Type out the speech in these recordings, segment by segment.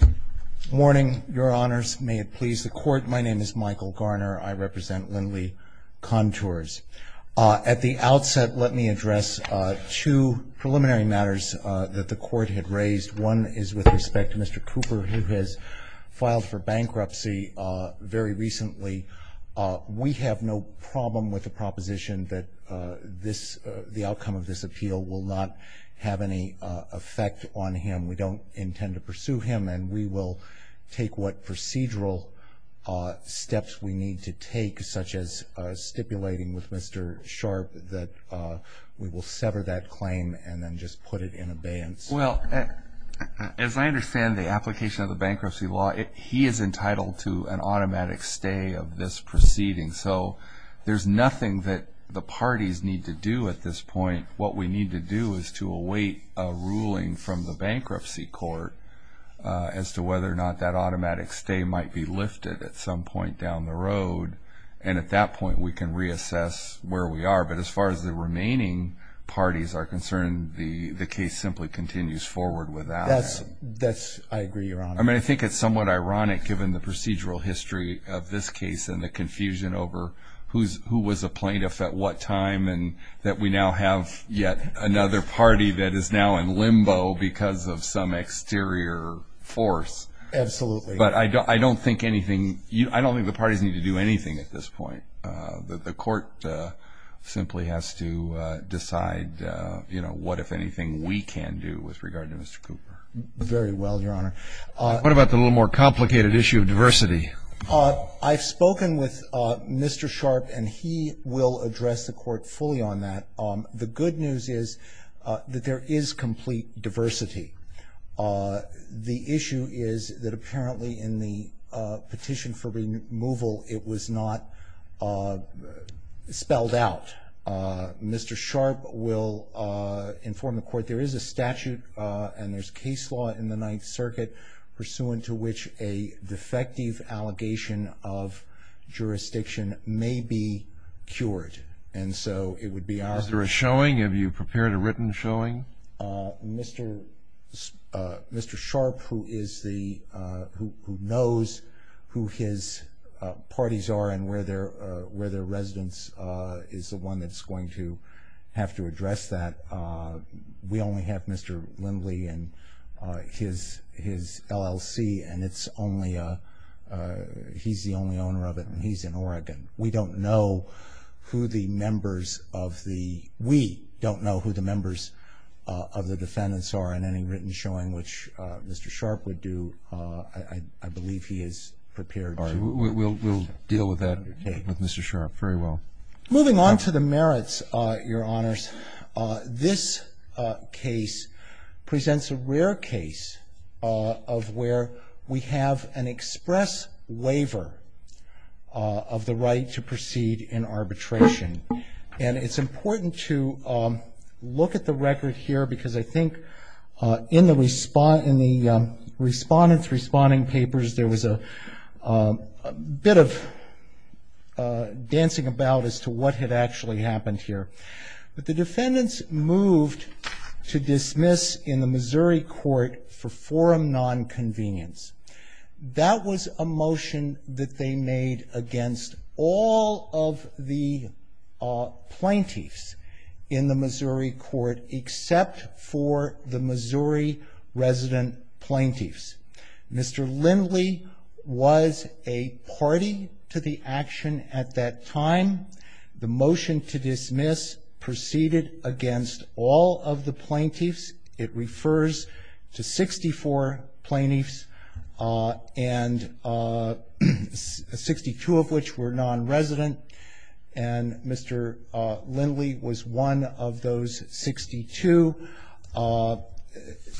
Good morning, Your Honors. May it please the Court, my name is Michael Garner. I represent Lindley Contours. At the outset, let me address two preliminary matters that the Court had raised. One is with respect to Mr. Cooper, who has filed for bankruptcy very recently. We have no problem with the proposition that the outcome of this appeal will not have any effect on him. We don't intend to pursue him and we will take what procedural steps we need to take, such as stipulating with Mr. Sharp that we will sever that claim and then just put it in abeyance. Well, as I understand the application of the bankruptcy law, he is entitled to an automatic stay of this proceeding. So there's nothing that the parties need to do at this point. What we need to do is to await a ruling from the bankruptcy court as to whether or not that automatic stay might be lifted at some point down the road, and at that point we can reassess where we are. But as far as the remaining parties are concerned, the case simply continues forward without it. That's – I agree, Your Honor. I mean, I think it's somewhat ironic, given the procedural history of this case and the confusion over who was a plaintiff at what time, and that we now have yet another party that is now in limbo because of some exterior force. Absolutely. But I don't think anything – I don't think the parties need to do anything at this point. The court simply has to decide what, if anything, we can do with regard to Mr. Cooper. Very well, Your Honor. What about the little more complicated issue of diversity? I've spoken with Mr. Sharpe, and he will address the Court fully on that. The good news is that there is complete diversity. The issue is that apparently in the petition for removal it was not spelled out. Mr. Sharpe will inform the Court there is a statute and there's case law in the Ninth Circuit pursuant to which a defective allegation of jurisdiction may be cured. And so it would be our – Is there a showing? Have you prepared a written showing? Mr. Sharpe, who is the – who knows who his parties are and where their residence is the one that's going to have to address that, we only have Mr. Lindley and his LLC, and it's only a – he's the only owner of it, and he's in Oregon. We don't know who the members of the – we don't know who the members of the defendants are in any written showing, which Mr. Sharpe would do. I believe he is prepared to – We'll deal with that with Mr. Sharpe very well. Moving on to the merits, Your Honors. This case presents a rare case of where we have an express waiver of the right to proceed in arbitration. And it's important to look at the record here because I think in the respondents' responding papers there was a bit of dancing about as to what had actually happened here. But the defendants moved to dismiss in the Missouri court for forum nonconvenience. That was a motion that they made against all of the plaintiffs in the Missouri court except for the Missouri resident plaintiffs. Mr. Lindley was a party to the action at that time. The motion to dismiss proceeded against all of the plaintiffs. It refers to 64 plaintiffs, 62 of which were nonresident, and Mr. Lindley was one of those 62.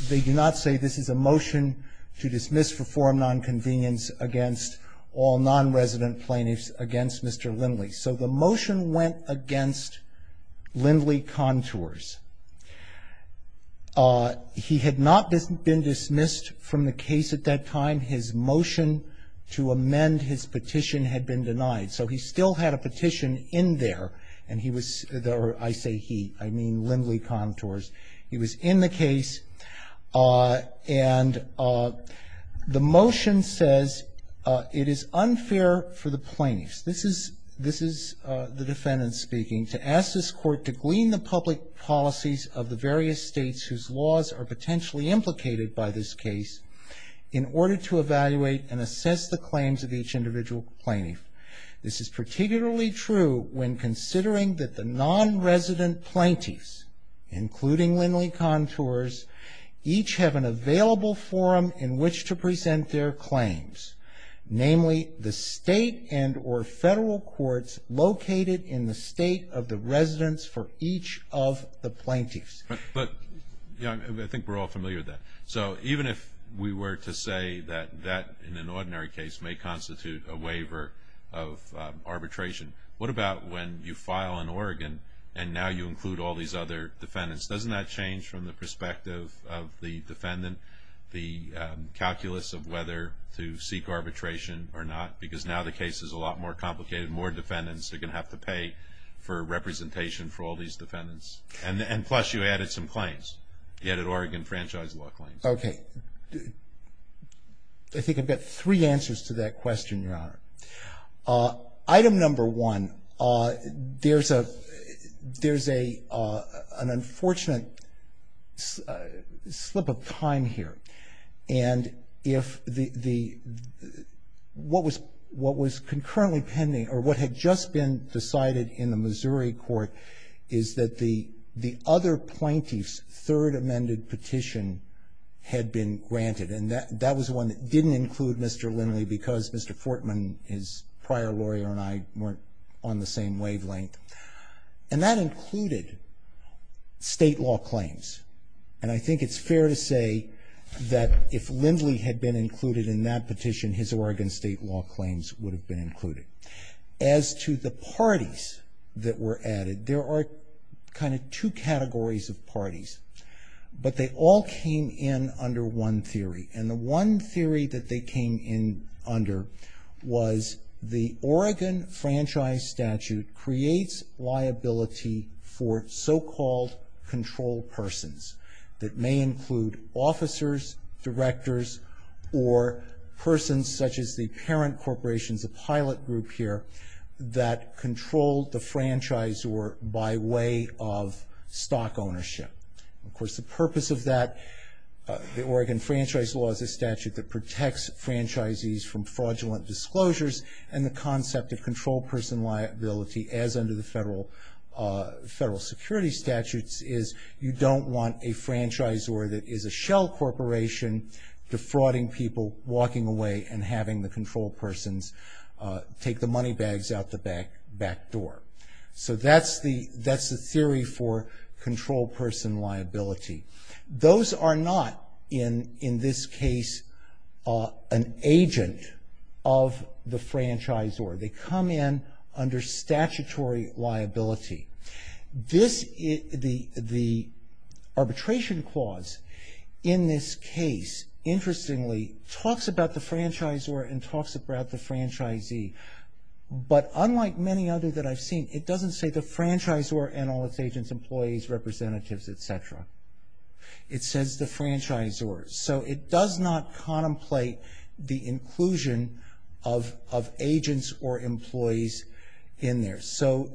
They do not say this is a motion to dismiss for forum nonconvenience against all nonresident plaintiffs against Mr. Lindley. So the motion went against Lindley-Contours. He had not been dismissed from the case at that time. His motion to amend his petition had been denied. So he still had a petition in there, and he was or I say he, I mean Lindley-Contours. He was in the case, and the motion says it is unfair for the plaintiffs. This is the defendant speaking, to ask this court to glean the public policies of the various states whose laws are potentially implicated by this case in order to evaluate and assess the claims of each individual plaintiff. This is particularly true when considering that the nonresident plaintiffs, including Lindley-Contours, each have an available forum in which to present their claims, namely the state and or federal courts located in the state of the residence for each of the plaintiffs. But I think we're all familiar with that. So even if we were to say that that, in an ordinary case, may constitute a waiver of arbitration, what about when you file in Oregon and now you include all these other defendants? Doesn't that change from the perspective of the defendant, the calculus of whether to seek arbitration or not? Because now the case is a lot more complicated. More defendants are going to have to pay for representation for all these defendants. And plus you added some claims. You added Oregon franchise law claims. Okay. Item number one, there's a unfortunate slip of time here. And if the what was concurrently pending or what had just been decided in the Missouri court is that the other plaintiff's third amended petition had been granted. And that was one that didn't include Mr. Lindley because Mr. Fortman, his prior lawyer, and I weren't on the same wavelength. And that included state law claims. And I think it's fair to say that if Lindley had been included in that petition, his Oregon state law claims would have been included. As to the parties that were added, there are kind of two categories of parties. But they all came in under one theory. And the one theory that they came in under was the Oregon franchise statute creates liability for so-called control persons that may include officers, directors, or persons such as the parent corporations, the pilot group here, that control the franchisor by way of stock ownership. Of course, the purpose of that, the Oregon franchise law is a statute that protects franchisees from fraudulent disclosures. And the concept of control person liability, as under the federal security statutes, is you don't want a franchisor that is a shell corporation defrauding people, walking away and having the control persons take the money bags out the back door. So that's the theory for control person liability. Those are not, in this case, an agent of the franchisor. They come in under statutory liability. The arbitration clause in this case, interestingly, talks about the franchisor and talks about the franchisee. But unlike many others that I've seen, it doesn't say the franchisor and all its agents, employees, representatives, et cetera. It says the franchisor. So it does not contemplate the inclusion of agents or employees in there. So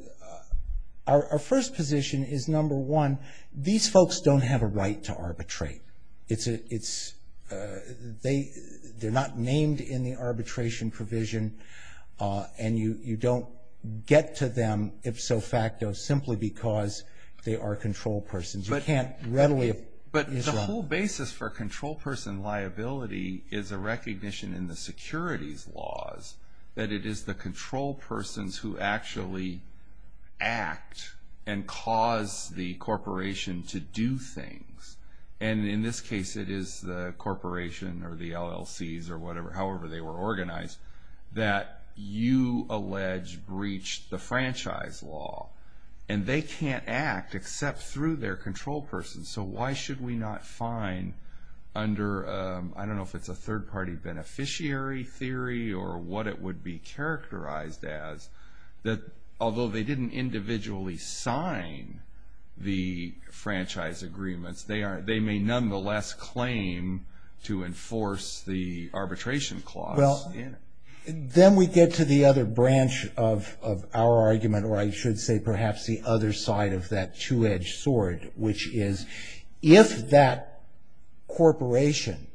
our first position is, number one, these folks don't have a right to arbitrate. They're not named in the arbitration provision. And you don't get to them, ipso facto, simply because they are control persons. You can't readily- But the whole basis for control person liability is a recognition in the securities laws that it is the control persons who actually act and cause the corporation to do things. And in this case, it is the corporation or the LLCs or however they were organized that you allege breached the franchise law. And they can't act except through their control person. So why should we not find under, I don't know if it's a third-party beneficiary theory or what it would be characterized as, that although they didn't individually sign the franchise agreements, they may nonetheless claim to enforce the arbitration clause in it. Well, then we get to the other branch of our argument, or I should say perhaps the other side of that two-edged sword, which is if that corporation,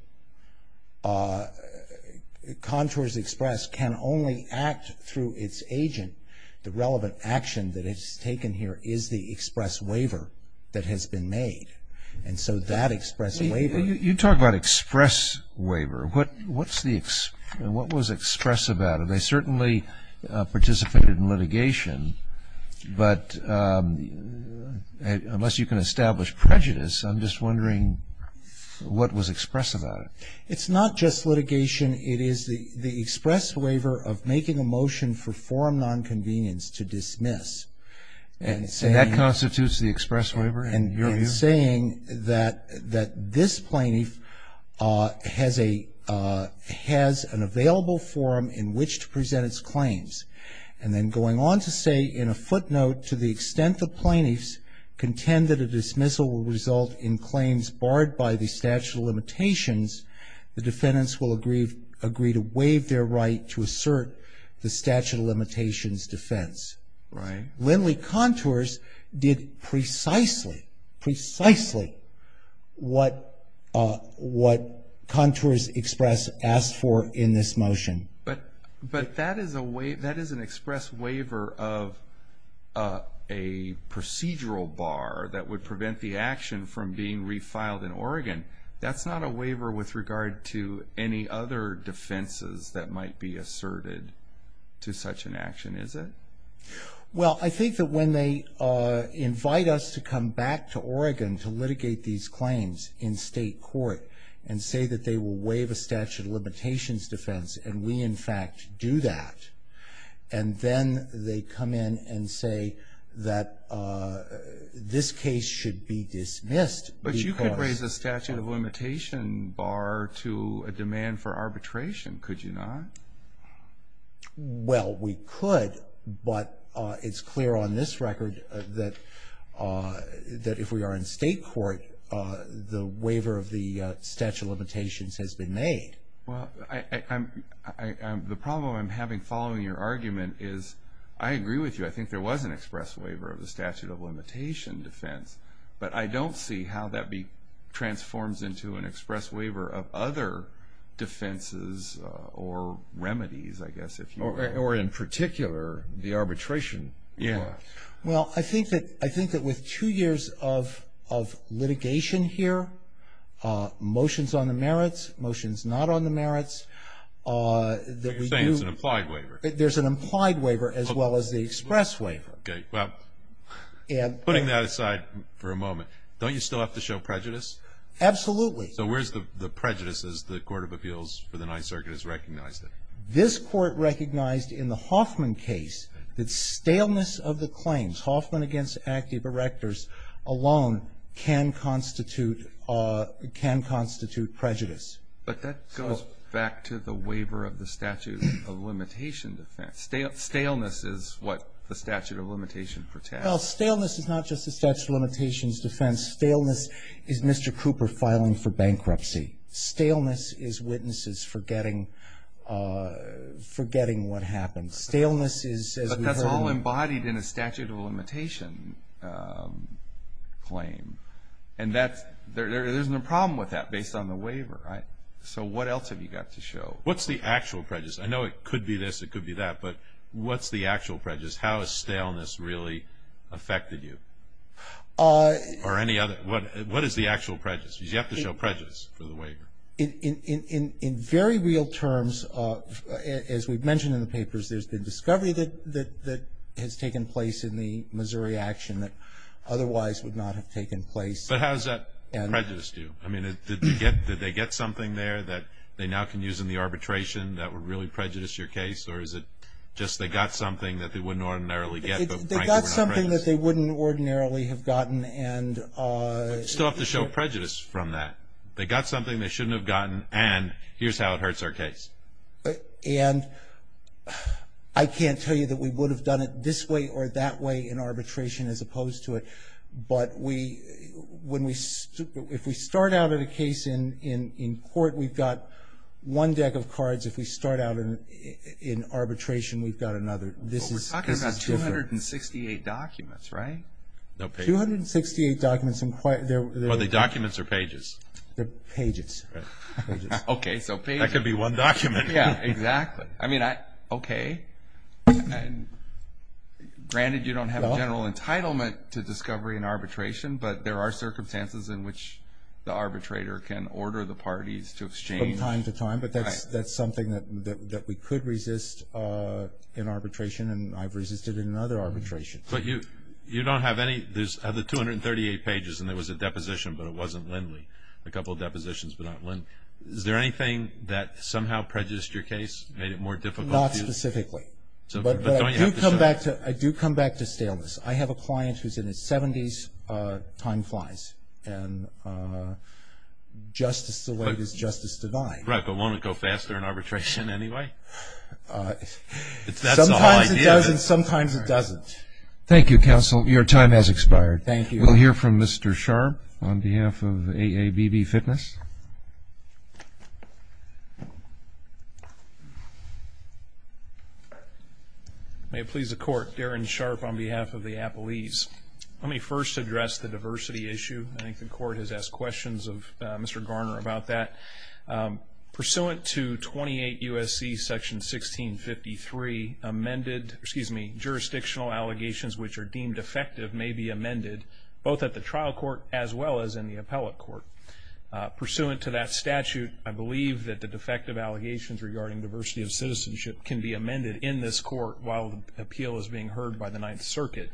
Contours Express, can only act through its agent, the relevant action that is taken here is the express waiver that has been made. And so that express waiver- You talk about express waiver. What was express about it? They certainly participated in litigation, but unless you can establish prejudice, I'm just wondering what was expressed about it. It's not just litigation. It is the express waiver of making a motion for forum nonconvenience to dismiss. And saying- And that constitutes the express waiver in your view? And saying that this plaintiff has an available forum in which to present its claims. And then going on to say in a footnote, to the extent the plaintiffs contend that a dismissal will result in claims barred by the statute of limitations, the defendants will agree to waive their right to assert the statute of limitations defense. Right. Lindley Contours did precisely, precisely what Contours Express asked for in this motion. But that is an express waiver of a procedural bar that would prevent the action from being refiled in Oregon. That's not a waiver with regard to any other defenses that might be asserted to such an action, is it? Well, I think that when they invite us to come back to Oregon to litigate these claims in state court and say that they will waive a statute of limitations defense, and we in fact do that, and then they come in and say that this case should be dismissed. But you could raise the statute of limitation bar to a demand for arbitration, could you not? Well, we could, but it's clear on this record that if we are in state court, the waiver of the statute of limitations has been made. Well, the problem I'm having following your argument is I agree with you. I think there was an express waiver of the statute of limitation defense, but I don't see how that transforms into an express waiver of other defenses or remedies, I guess, if you will. Or in particular, the arbitration clause. Well, I think that with two years of litigation here, motions on the merits, motions not on the merits, that we do. So you're saying it's an implied waiver? There's an implied waiver as well as the express waiver. Okay, well, putting that aside for a moment, don't you still have to show prejudice? Absolutely. So where's the prejudice as the Court of Appeals for the Ninth Circuit has recognized it? This Court recognized in the Hoffman case that staleness of the claims, Hoffman against active erectors alone can constitute prejudice. But that goes back to the waiver of the statute of limitation defense. Staleness is what the statute of limitation protects. Well, staleness is not just the statute of limitations defense. Staleness is Mr. Cooper filing for bankruptcy. Staleness is witnesses forgetting what happened. But that's all embodied in a statute of limitation claim. And there's no problem with that based on the waiver. So what else have you got to show? What's the actual prejudice? I know it could be this, it could be that. But what's the actual prejudice? How has staleness really affected you? Or any other? What is the actual prejudice? Because you have to show prejudice for the waiver. In very real terms, as we've mentioned in the papers, there's been discovery that has taken place in the Missouri action that otherwise would not have taken place. But how does that prejudice do? I mean, did they get something there that they now can use in the arbitration that would really prejudice your case? Or is it just they got something that they wouldn't ordinarily get but, frankly, were not prejudiced? They got something that they wouldn't ordinarily have gotten. But you still have to show prejudice from that. They got something they shouldn't have gotten. And here's how it hurts our case. And I can't tell you that we would have done it this way or that way in arbitration as opposed to it. But if we start out in a case in court, we've got one deck of cards. If we start out in arbitration, we've got another. But we're talking about 268 documents, right? 268 documents. Are they documents or pages? They're pages. Okay, so pages. That could be one document. Yeah, exactly. I mean, okay. Granted, you don't have a general entitlement to discovery in arbitration, but there are circumstances in which the arbitrator can order the parties to exchange. From time to time. But that's something that we could resist in arbitration, and I've resisted in another arbitration. But you don't have any of the 238 pages, and there was a deposition, but it wasn't Lindley. A couple of depositions, but not Lindley. Is there anything that somehow prejudiced your case, made it more difficult? Not specifically. But don't you have to show it? I do come back to staleness. I have a client who's in his 70s, time flies. And justice delayed is justice denied. Right, but won't it go faster in arbitration anyway? That's the whole idea. It does, and sometimes it doesn't. Thank you, counsel. Your time has expired. Thank you. We'll hear from Mr. Sharp on behalf of AABB Fitness. May it please the Court, Darren Sharp on behalf of the Appalese. Let me first address the diversity issue. I think the Court has asked questions of Mr. Garner about that. Pursuant to 28 U.S.C. Section 1653, jurisdictional allegations which are deemed effective may be amended, both at the trial court as well as in the appellate court. Pursuant to that statute, I believe that the defective allegations regarding diversity of citizenship can be amended in this court while the appeal is being heard by the Ninth Circuit.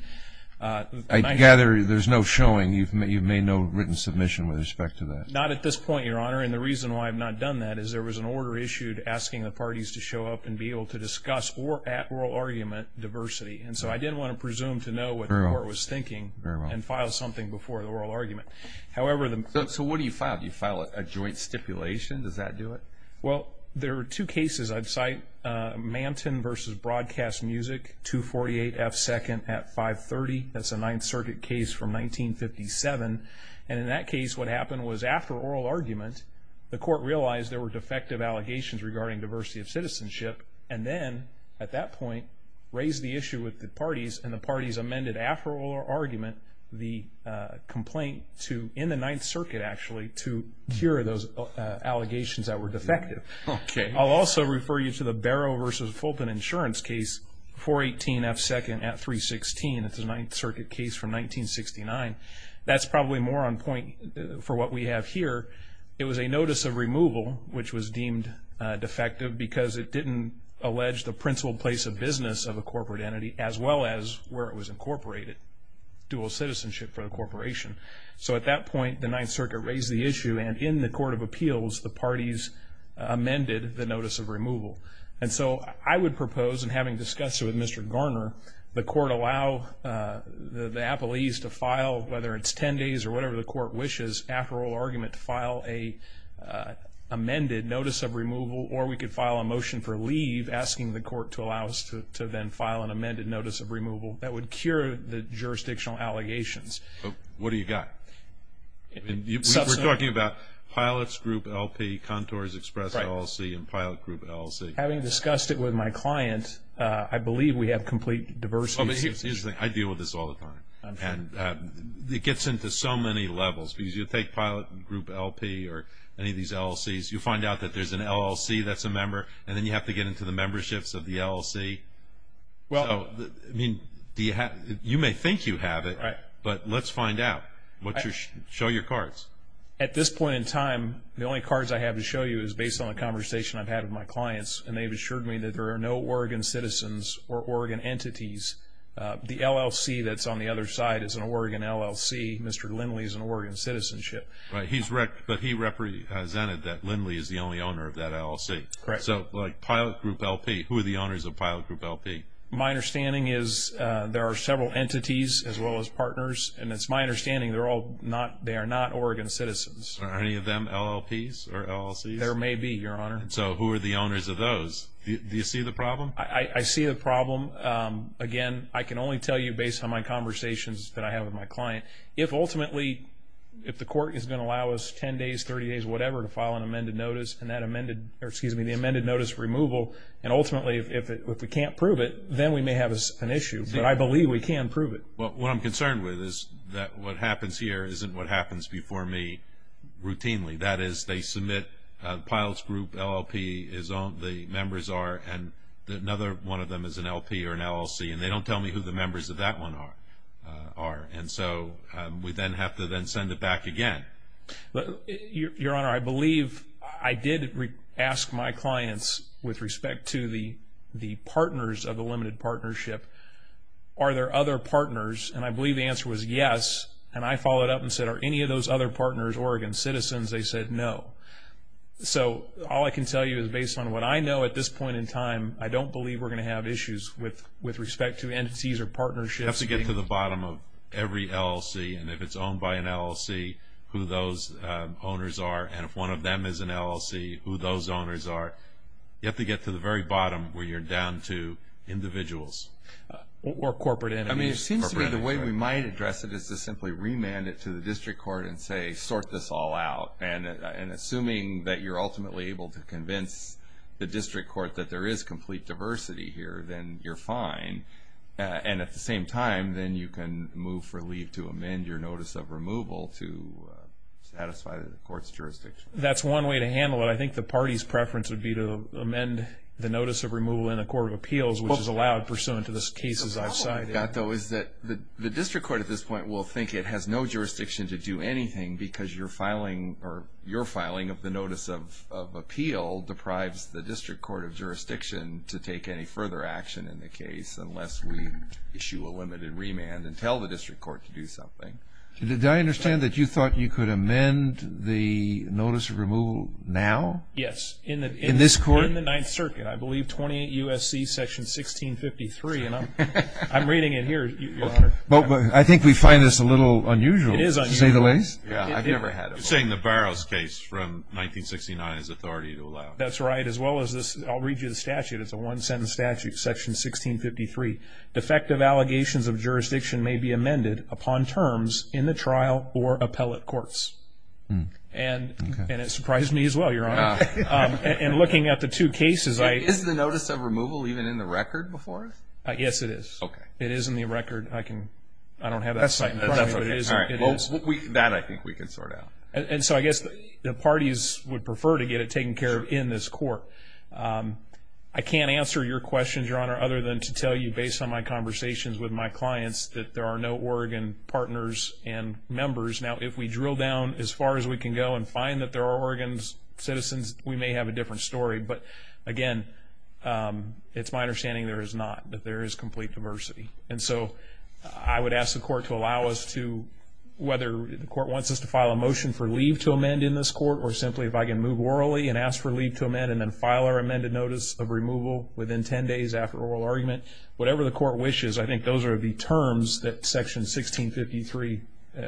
I gather there's no showing. You've made no written submission with respect to that. Not at this point, Your Honor. And the reason why I've not done that is there was an order issued asking the parties to show up and be able to discuss at oral argument diversity. And so I didn't want to presume to know what the Court was thinking and file something before the oral argument. So what do you file? Do you file a joint stipulation? Does that do it? Well, there are two cases I'd cite, Manton v. Broadcast Music, 248 F. 2nd at 530. That's a Ninth Circuit case from 1957. And in that case, what happened was after oral argument, the Court realized there were defective allegations regarding diversity of citizenship and then, at that point, raised the issue with the parties and the parties amended after oral argument the complaint in the Ninth Circuit, actually, to cure those allegations that were defective. Okay. I'll also refer you to the Barrow v. Fulton Insurance case, 418 F. 2nd at 316. It's a Ninth Circuit case from 1969. That's probably more on point for what we have here. It was a notice of removal, which was deemed defective, because it didn't allege the principled place of business of a corporate entity, as well as where it was incorporated, dual citizenship for the corporation. So at that point, the Ninth Circuit raised the issue, and in the Court of Appeals, the parties amended the notice of removal. And so I would propose, and having discussed it with Mr. Garner, the court allow the appellees to file, whether it's ten days or whatever the court wishes, after oral argument to file an amended notice of removal, or we could file a motion for leave asking the court to allow us to then file an amended notice of removal. That would cure the jurisdictional allegations. What do you got? We're talking about Pilots Group LP, Contours Express LLC, and Pilot Group LLC. Having discussed it with my client, I believe we have complete diversity. I deal with this all the time. It gets into so many levels, because you take Pilot Group LP or any of these LLCs, you find out that there's an LLC that's a member, and then you have to get into the memberships of the LLC. You may think you have it, but let's find out. Show your cards. At this point in time, the only cards I have to show you is based on a conversation I've had with my Oregon citizens or Oregon entities. The LLC that's on the other side is an Oregon LLC. Mr. Lindley is an Oregon citizenship. Right, but he represented that Lindley is the only owner of that LLC. Correct. So like Pilot Group LP, who are the owners of Pilot Group LP? My understanding is there are several entities as well as partners, and it's my understanding they are not Oregon citizens. Are any of them LLPs or LLCs? There may be, Your Honor. So who are the owners of those? Do you see the problem? I see the problem. Again, I can only tell you based on my conversations that I have with my client. If ultimately, if the court is going to allow us 10 days, 30 days, whatever to file an amended notice and that amended or, excuse me, the amended notice removal, and ultimately if we can't prove it, then we may have an issue. But I believe we can prove it. What I'm concerned with is that what happens here isn't what happens before me routinely. That is, they submit Pilot Group LLP is owned, the members are, and another one of them is an LP or an LLC, and they don't tell me who the members of that one are. And so we then have to then send it back again. Your Honor, I believe I did ask my clients with respect to the partners of the limited partnership, are there other partners? And I believe the answer was yes. And I followed up and said, are any of those other partners Oregon citizens? They said no. So all I can tell you is based on what I know at this point in time, I don't believe we're going to have issues with respect to entities or partnerships. You have to get to the bottom of every LLC, and if it's owned by an LLC, who those owners are. And if one of them is an LLC, who those owners are. You have to get to the very bottom where you're down to individuals. Or corporate entities. I mean, it seems to me the way we might address it is to simply remand it to And assuming that you're ultimately able to convince the district court that there is complete diversity here, then you're fine. And at the same time, then you can move for leave to amend your notice of removal to satisfy the court's jurisdiction. That's one way to handle it. I think the party's preference would be to amend the notice of removal in a court of appeals, which is allowed pursuant to the cases I've cited. The problem I've got, though, is that the district court at this point will think it has no jurisdiction to do anything because your filing of the notice of appeal deprives the district court of jurisdiction to take any further action in the case unless we issue a limited remand and tell the district court to do something. Did I understand that you thought you could amend the notice of removal now? Yes. In this court? In the Ninth Circuit. I believe 28 U.S.C. Section 1653, and I'm reading it here, Your Honor. I think we find this a little unusual, to say the least. It is unusual. I've never had it. You're saying the Barrows case from 1969 is authority to allow. That's right, as well as this. I'll read you the statute. It's a one-sentence statute, Section 1653. Defective allegations of jurisdiction may be amended upon terms in the trial or appellate courts. And it surprised me as well, Your Honor. And looking at the two cases, I – Is the notice of removal even in the record before us? Yes, it is. Okay. It is in the record. I can – I don't have that site in front of me. That's okay. That I think we can sort out. And so I guess the parties would prefer to get it taken care of in this court. I can't answer your questions, Your Honor, other than to tell you, based on my conversations with my clients, that there are no Oregon partners and members. Now, if we drill down as far as we can go and find that there are Oregon citizens, we may have a different story. But, again, it's my understanding there is not, that there is complete diversity. And so I would ask the court to allow us to, whether the court wants us to file a motion for leave to amend in this court or simply if I can move orally and ask for leave to amend and then file our amended notice of removal within 10 days after oral argument. Whatever the court wishes, I think those are the terms that Section 1653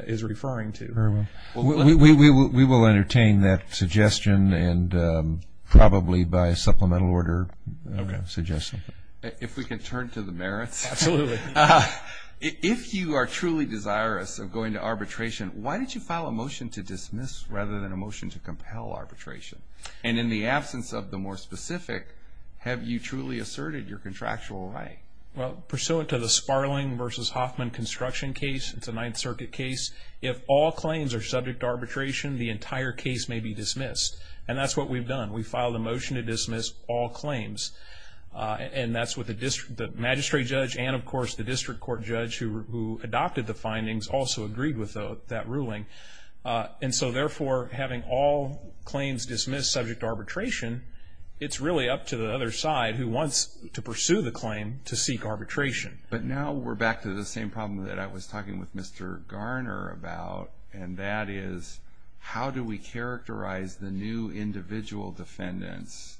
is referring to. Very well. We will entertain that suggestion and probably by supplemental order suggest something. If we can turn to the merits. Absolutely. If you are truly desirous of going to arbitration, why did you file a motion to dismiss rather than a motion to compel arbitration? And in the absence of the more specific, have you truly asserted your contractual right? Well, pursuant to the Sparling v. Hoffman construction case, it's a Ninth Circuit case, if all claims are subject to arbitration, the entire case may be dismissed. And that's what we've done. We filed a motion to dismiss all claims. And that's what the magistrate judge and, of course, the district court judge who adopted the findings also agreed with that ruling. And so, therefore, having all claims dismissed subject to arbitration, it's really up to the other side who wants to pursue the claim to seek arbitration. But now we're back to the same problem that I was talking with Mr. Garner about, and that is how do we characterize the new individual defendants?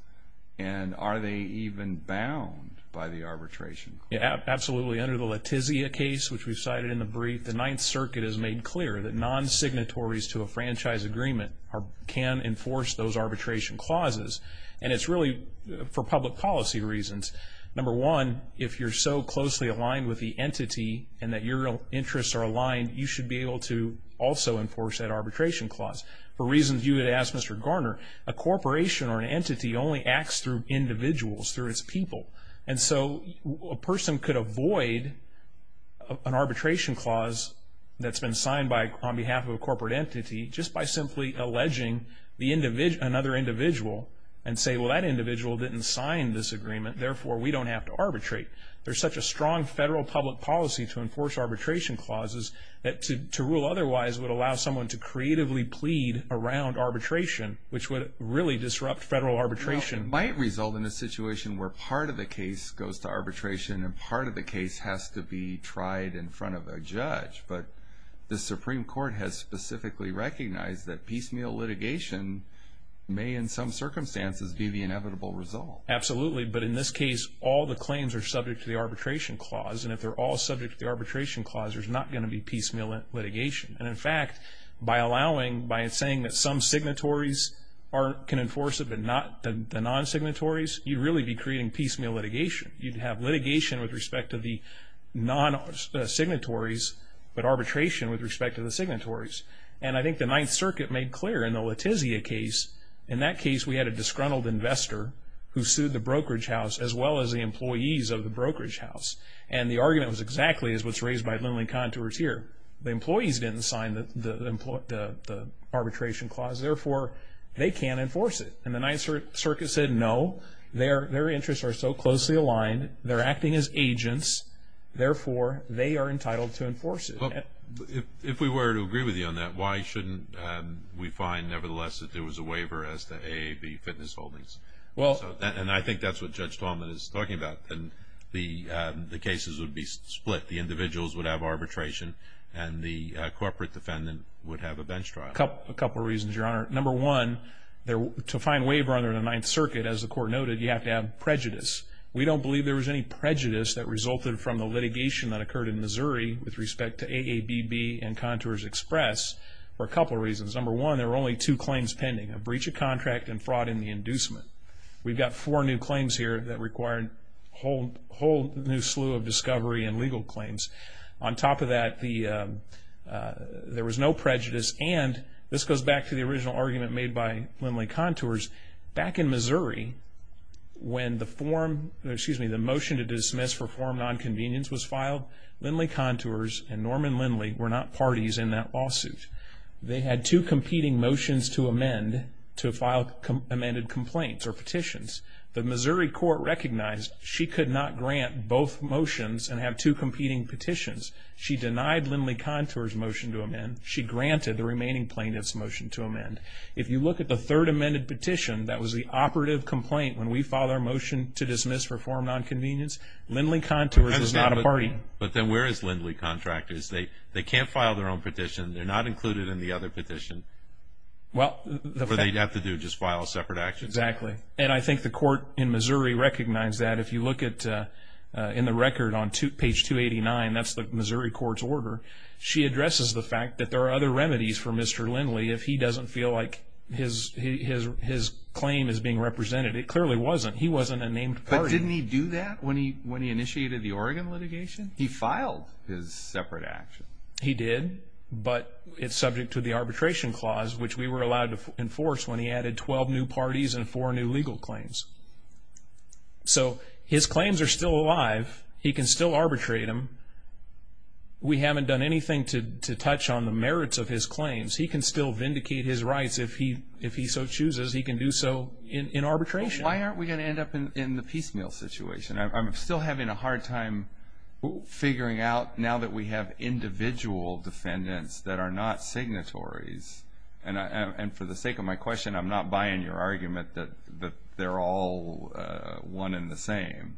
And are they even bound by the arbitration? Absolutely. Under the Letizia case, which we cited in the brief, the Ninth Circuit has made clear that non-signatories to a franchise agreement can enforce those arbitration clauses. And it's really for public policy reasons. Number one, if you're so closely aligned with the entity and that your interests are aligned, you should be able to also enforce that arbitration clause. For reasons you had asked, Mr. Garner, a corporation or an entity only acts through individuals, through its people. And so a person could avoid an arbitration clause that's been signed on behalf of a corporate entity just by simply alleging another individual and say, well, that individual didn't sign this agreement, therefore we don't have to arbitrate. There's such a strong federal public policy to enforce arbitration clauses that to rule otherwise would allow someone to creatively plead around arbitration, which would really disrupt federal arbitration. Well, it might result in a situation where part of the case goes to arbitration and part of the case has to be tried in front of a judge. But the Supreme Court has specifically recognized that piecemeal litigation may in some circumstances be the inevitable result. Absolutely. But in this case, all the claims are subject to the arbitration clause. And if they're all subject to the arbitration clause, there's not going to be piecemeal litigation. And in fact, by saying that some signatories can enforce it but not the non-signatories, you'd really be creating piecemeal litigation. You'd have litigation with respect to the non-signatories but arbitration with respect to the signatories. And I think the Ninth Circuit made clear in the Letizia case, in that case we had a disgruntled investor who sued the brokerage house as well as the employees of the brokerage house. And the argument was exactly as what's raised by Lindley Contours here. The employees didn't sign the arbitration clause, therefore they can't enforce it. And the Ninth Circuit said no, their interests are so closely aligned, they're acting as agents, therefore they are entitled to enforce it. If we were to agree with you on that, why shouldn't we find nevertheless that there was a waiver as to AAV fitness holdings? And I think that's what Judge Talman is talking about. The cases would be split. The individuals would have arbitration and the corporate defendant would have a bench trial. A couple of reasons, Your Honor. Number one, to find waiver under the Ninth Circuit, as the court noted, you have to have prejudice. We don't believe there was any prejudice that resulted from the litigation that occurred in Missouri with respect to AABB and Contours Express for a couple of reasons. Number one, there were only two claims pending, a breach of contract and fraud in the inducement. We've got four new claims here that required a whole new slew of discovery and legal claims. On top of that, there was no prejudice. And this goes back to the original argument made by Lindley Contours. Back in Missouri, when the motion to dismiss for form nonconvenience was filed, Lindley Contours and Norman Lindley were not parties in that lawsuit. They had two competing motions to amend to file amended complaints or petitions. The Missouri court recognized she could not grant both motions and have two competing petitions. She denied Lindley Contours' motion to amend. She granted the remaining plaintiff's motion to amend. If you look at the third amended petition that was the operative complaint when we filed our motion to dismiss for form nonconvenience, Lindley Contours is not a party. But then where is Lindley Contours? They can't file their own petition. They're not included in the other petition. Or they'd have to just file a separate action. Exactly. And I think the court in Missouri recognized that. If you look in the record on page 289, that's the Missouri court's order, she addresses the fact that there are other remedies for Mr. Lindley if he doesn't feel like his claim is being represented. It clearly wasn't. He wasn't a named party. But didn't he do that when he initiated the Oregon litigation? He filed his separate action. He did, but it's subject to the arbitration clause, which we were allowed to enforce when he added 12 new parties and four new legal claims. So his claims are still alive. He can still arbitrate them. We haven't done anything to touch on the merits of his claims. He can still vindicate his rights if he so chooses. He can do so in arbitration. Why aren't we going to end up in the piecemeal situation? I'm still having a hard time figuring out, now that we have individual defendants that are not signatories. And for the sake of my question, I'm not buying your argument that they're all one and the same.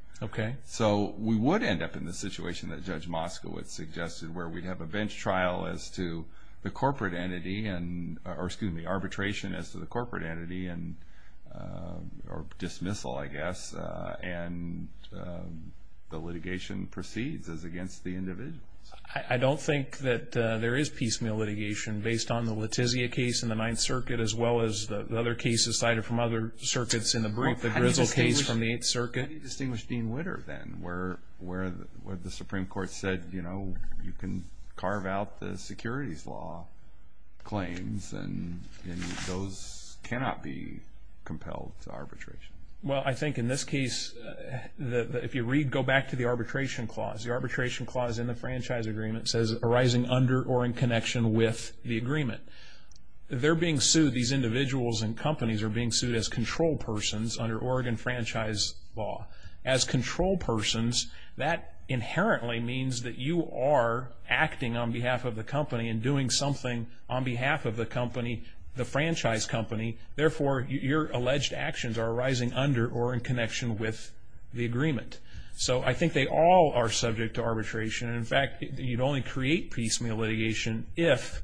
So we would end up in the situation that Judge Moskowitz suggested where we'd have a bench trial as to the corporate entity or, excuse me, arbitration as to the corporate entity or dismissal, I guess, and the litigation proceeds as against the individuals. I don't think that there is piecemeal litigation based on the Letizia case in the Ninth Circuit as well as the other cases cited from other circuits in the brief, the Grizzle case from the Eighth Circuit. How do you distinguish Dean Witter, then, where the Supreme Court said, you know, you can carve out the securities law claims and those cannot be compelled to arbitration? Well, I think in this case, if you read, go back to the arbitration clause. The arbitration clause in the franchise agreement says, arising under or in connection with the agreement. They're being sued, these individuals and companies, are being sued as control persons under Oregon franchise law. As control persons, that inherently means that you are acting on behalf of the company and doing something on behalf of the company, the franchise company. Therefore, your alleged actions are arising under or in connection with the agreement. So I think they all are subject to arbitration. In fact, you'd only create piecemeal litigation if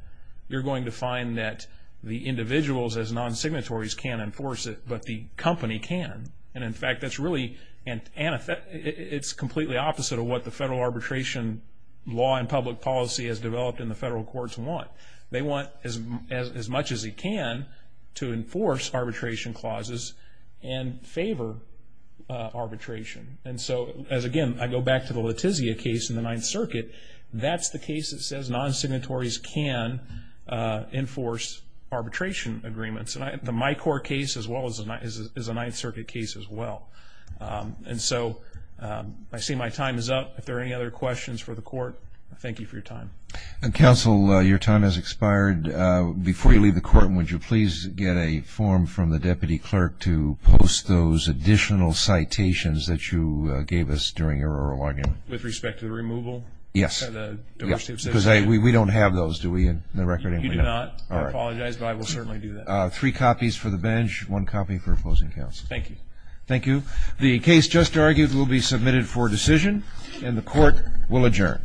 you're going to find that the individuals as non-signatories can't enforce it, but the company can. And in fact, it's completely opposite of what the federal arbitration law and public policy has developed in the federal courts want. They want, as much as they can, to enforce arbitration clauses and favor arbitration. And so, again, I go back to the Letizia case in the Ninth Circuit. That's the case that says non-signatories can enforce arbitration agreements. The Micor case is a Ninth Circuit case as well. And so I see my time is up. If there are any other questions for the court, I thank you for your time. Counsel, your time has expired. Before you leave the court, would you please get a form from the deputy clerk to post those additional citations that you gave us during your oral argument? With respect to the removal? Yes, because we don't have those, do we, in the record? You do not. I apologize, but I will certainly do that. Three copies for the bench, one copy for opposing counsel. Thank you. Thank you. The case just argued will be submitted for decision, and the court will adjourn.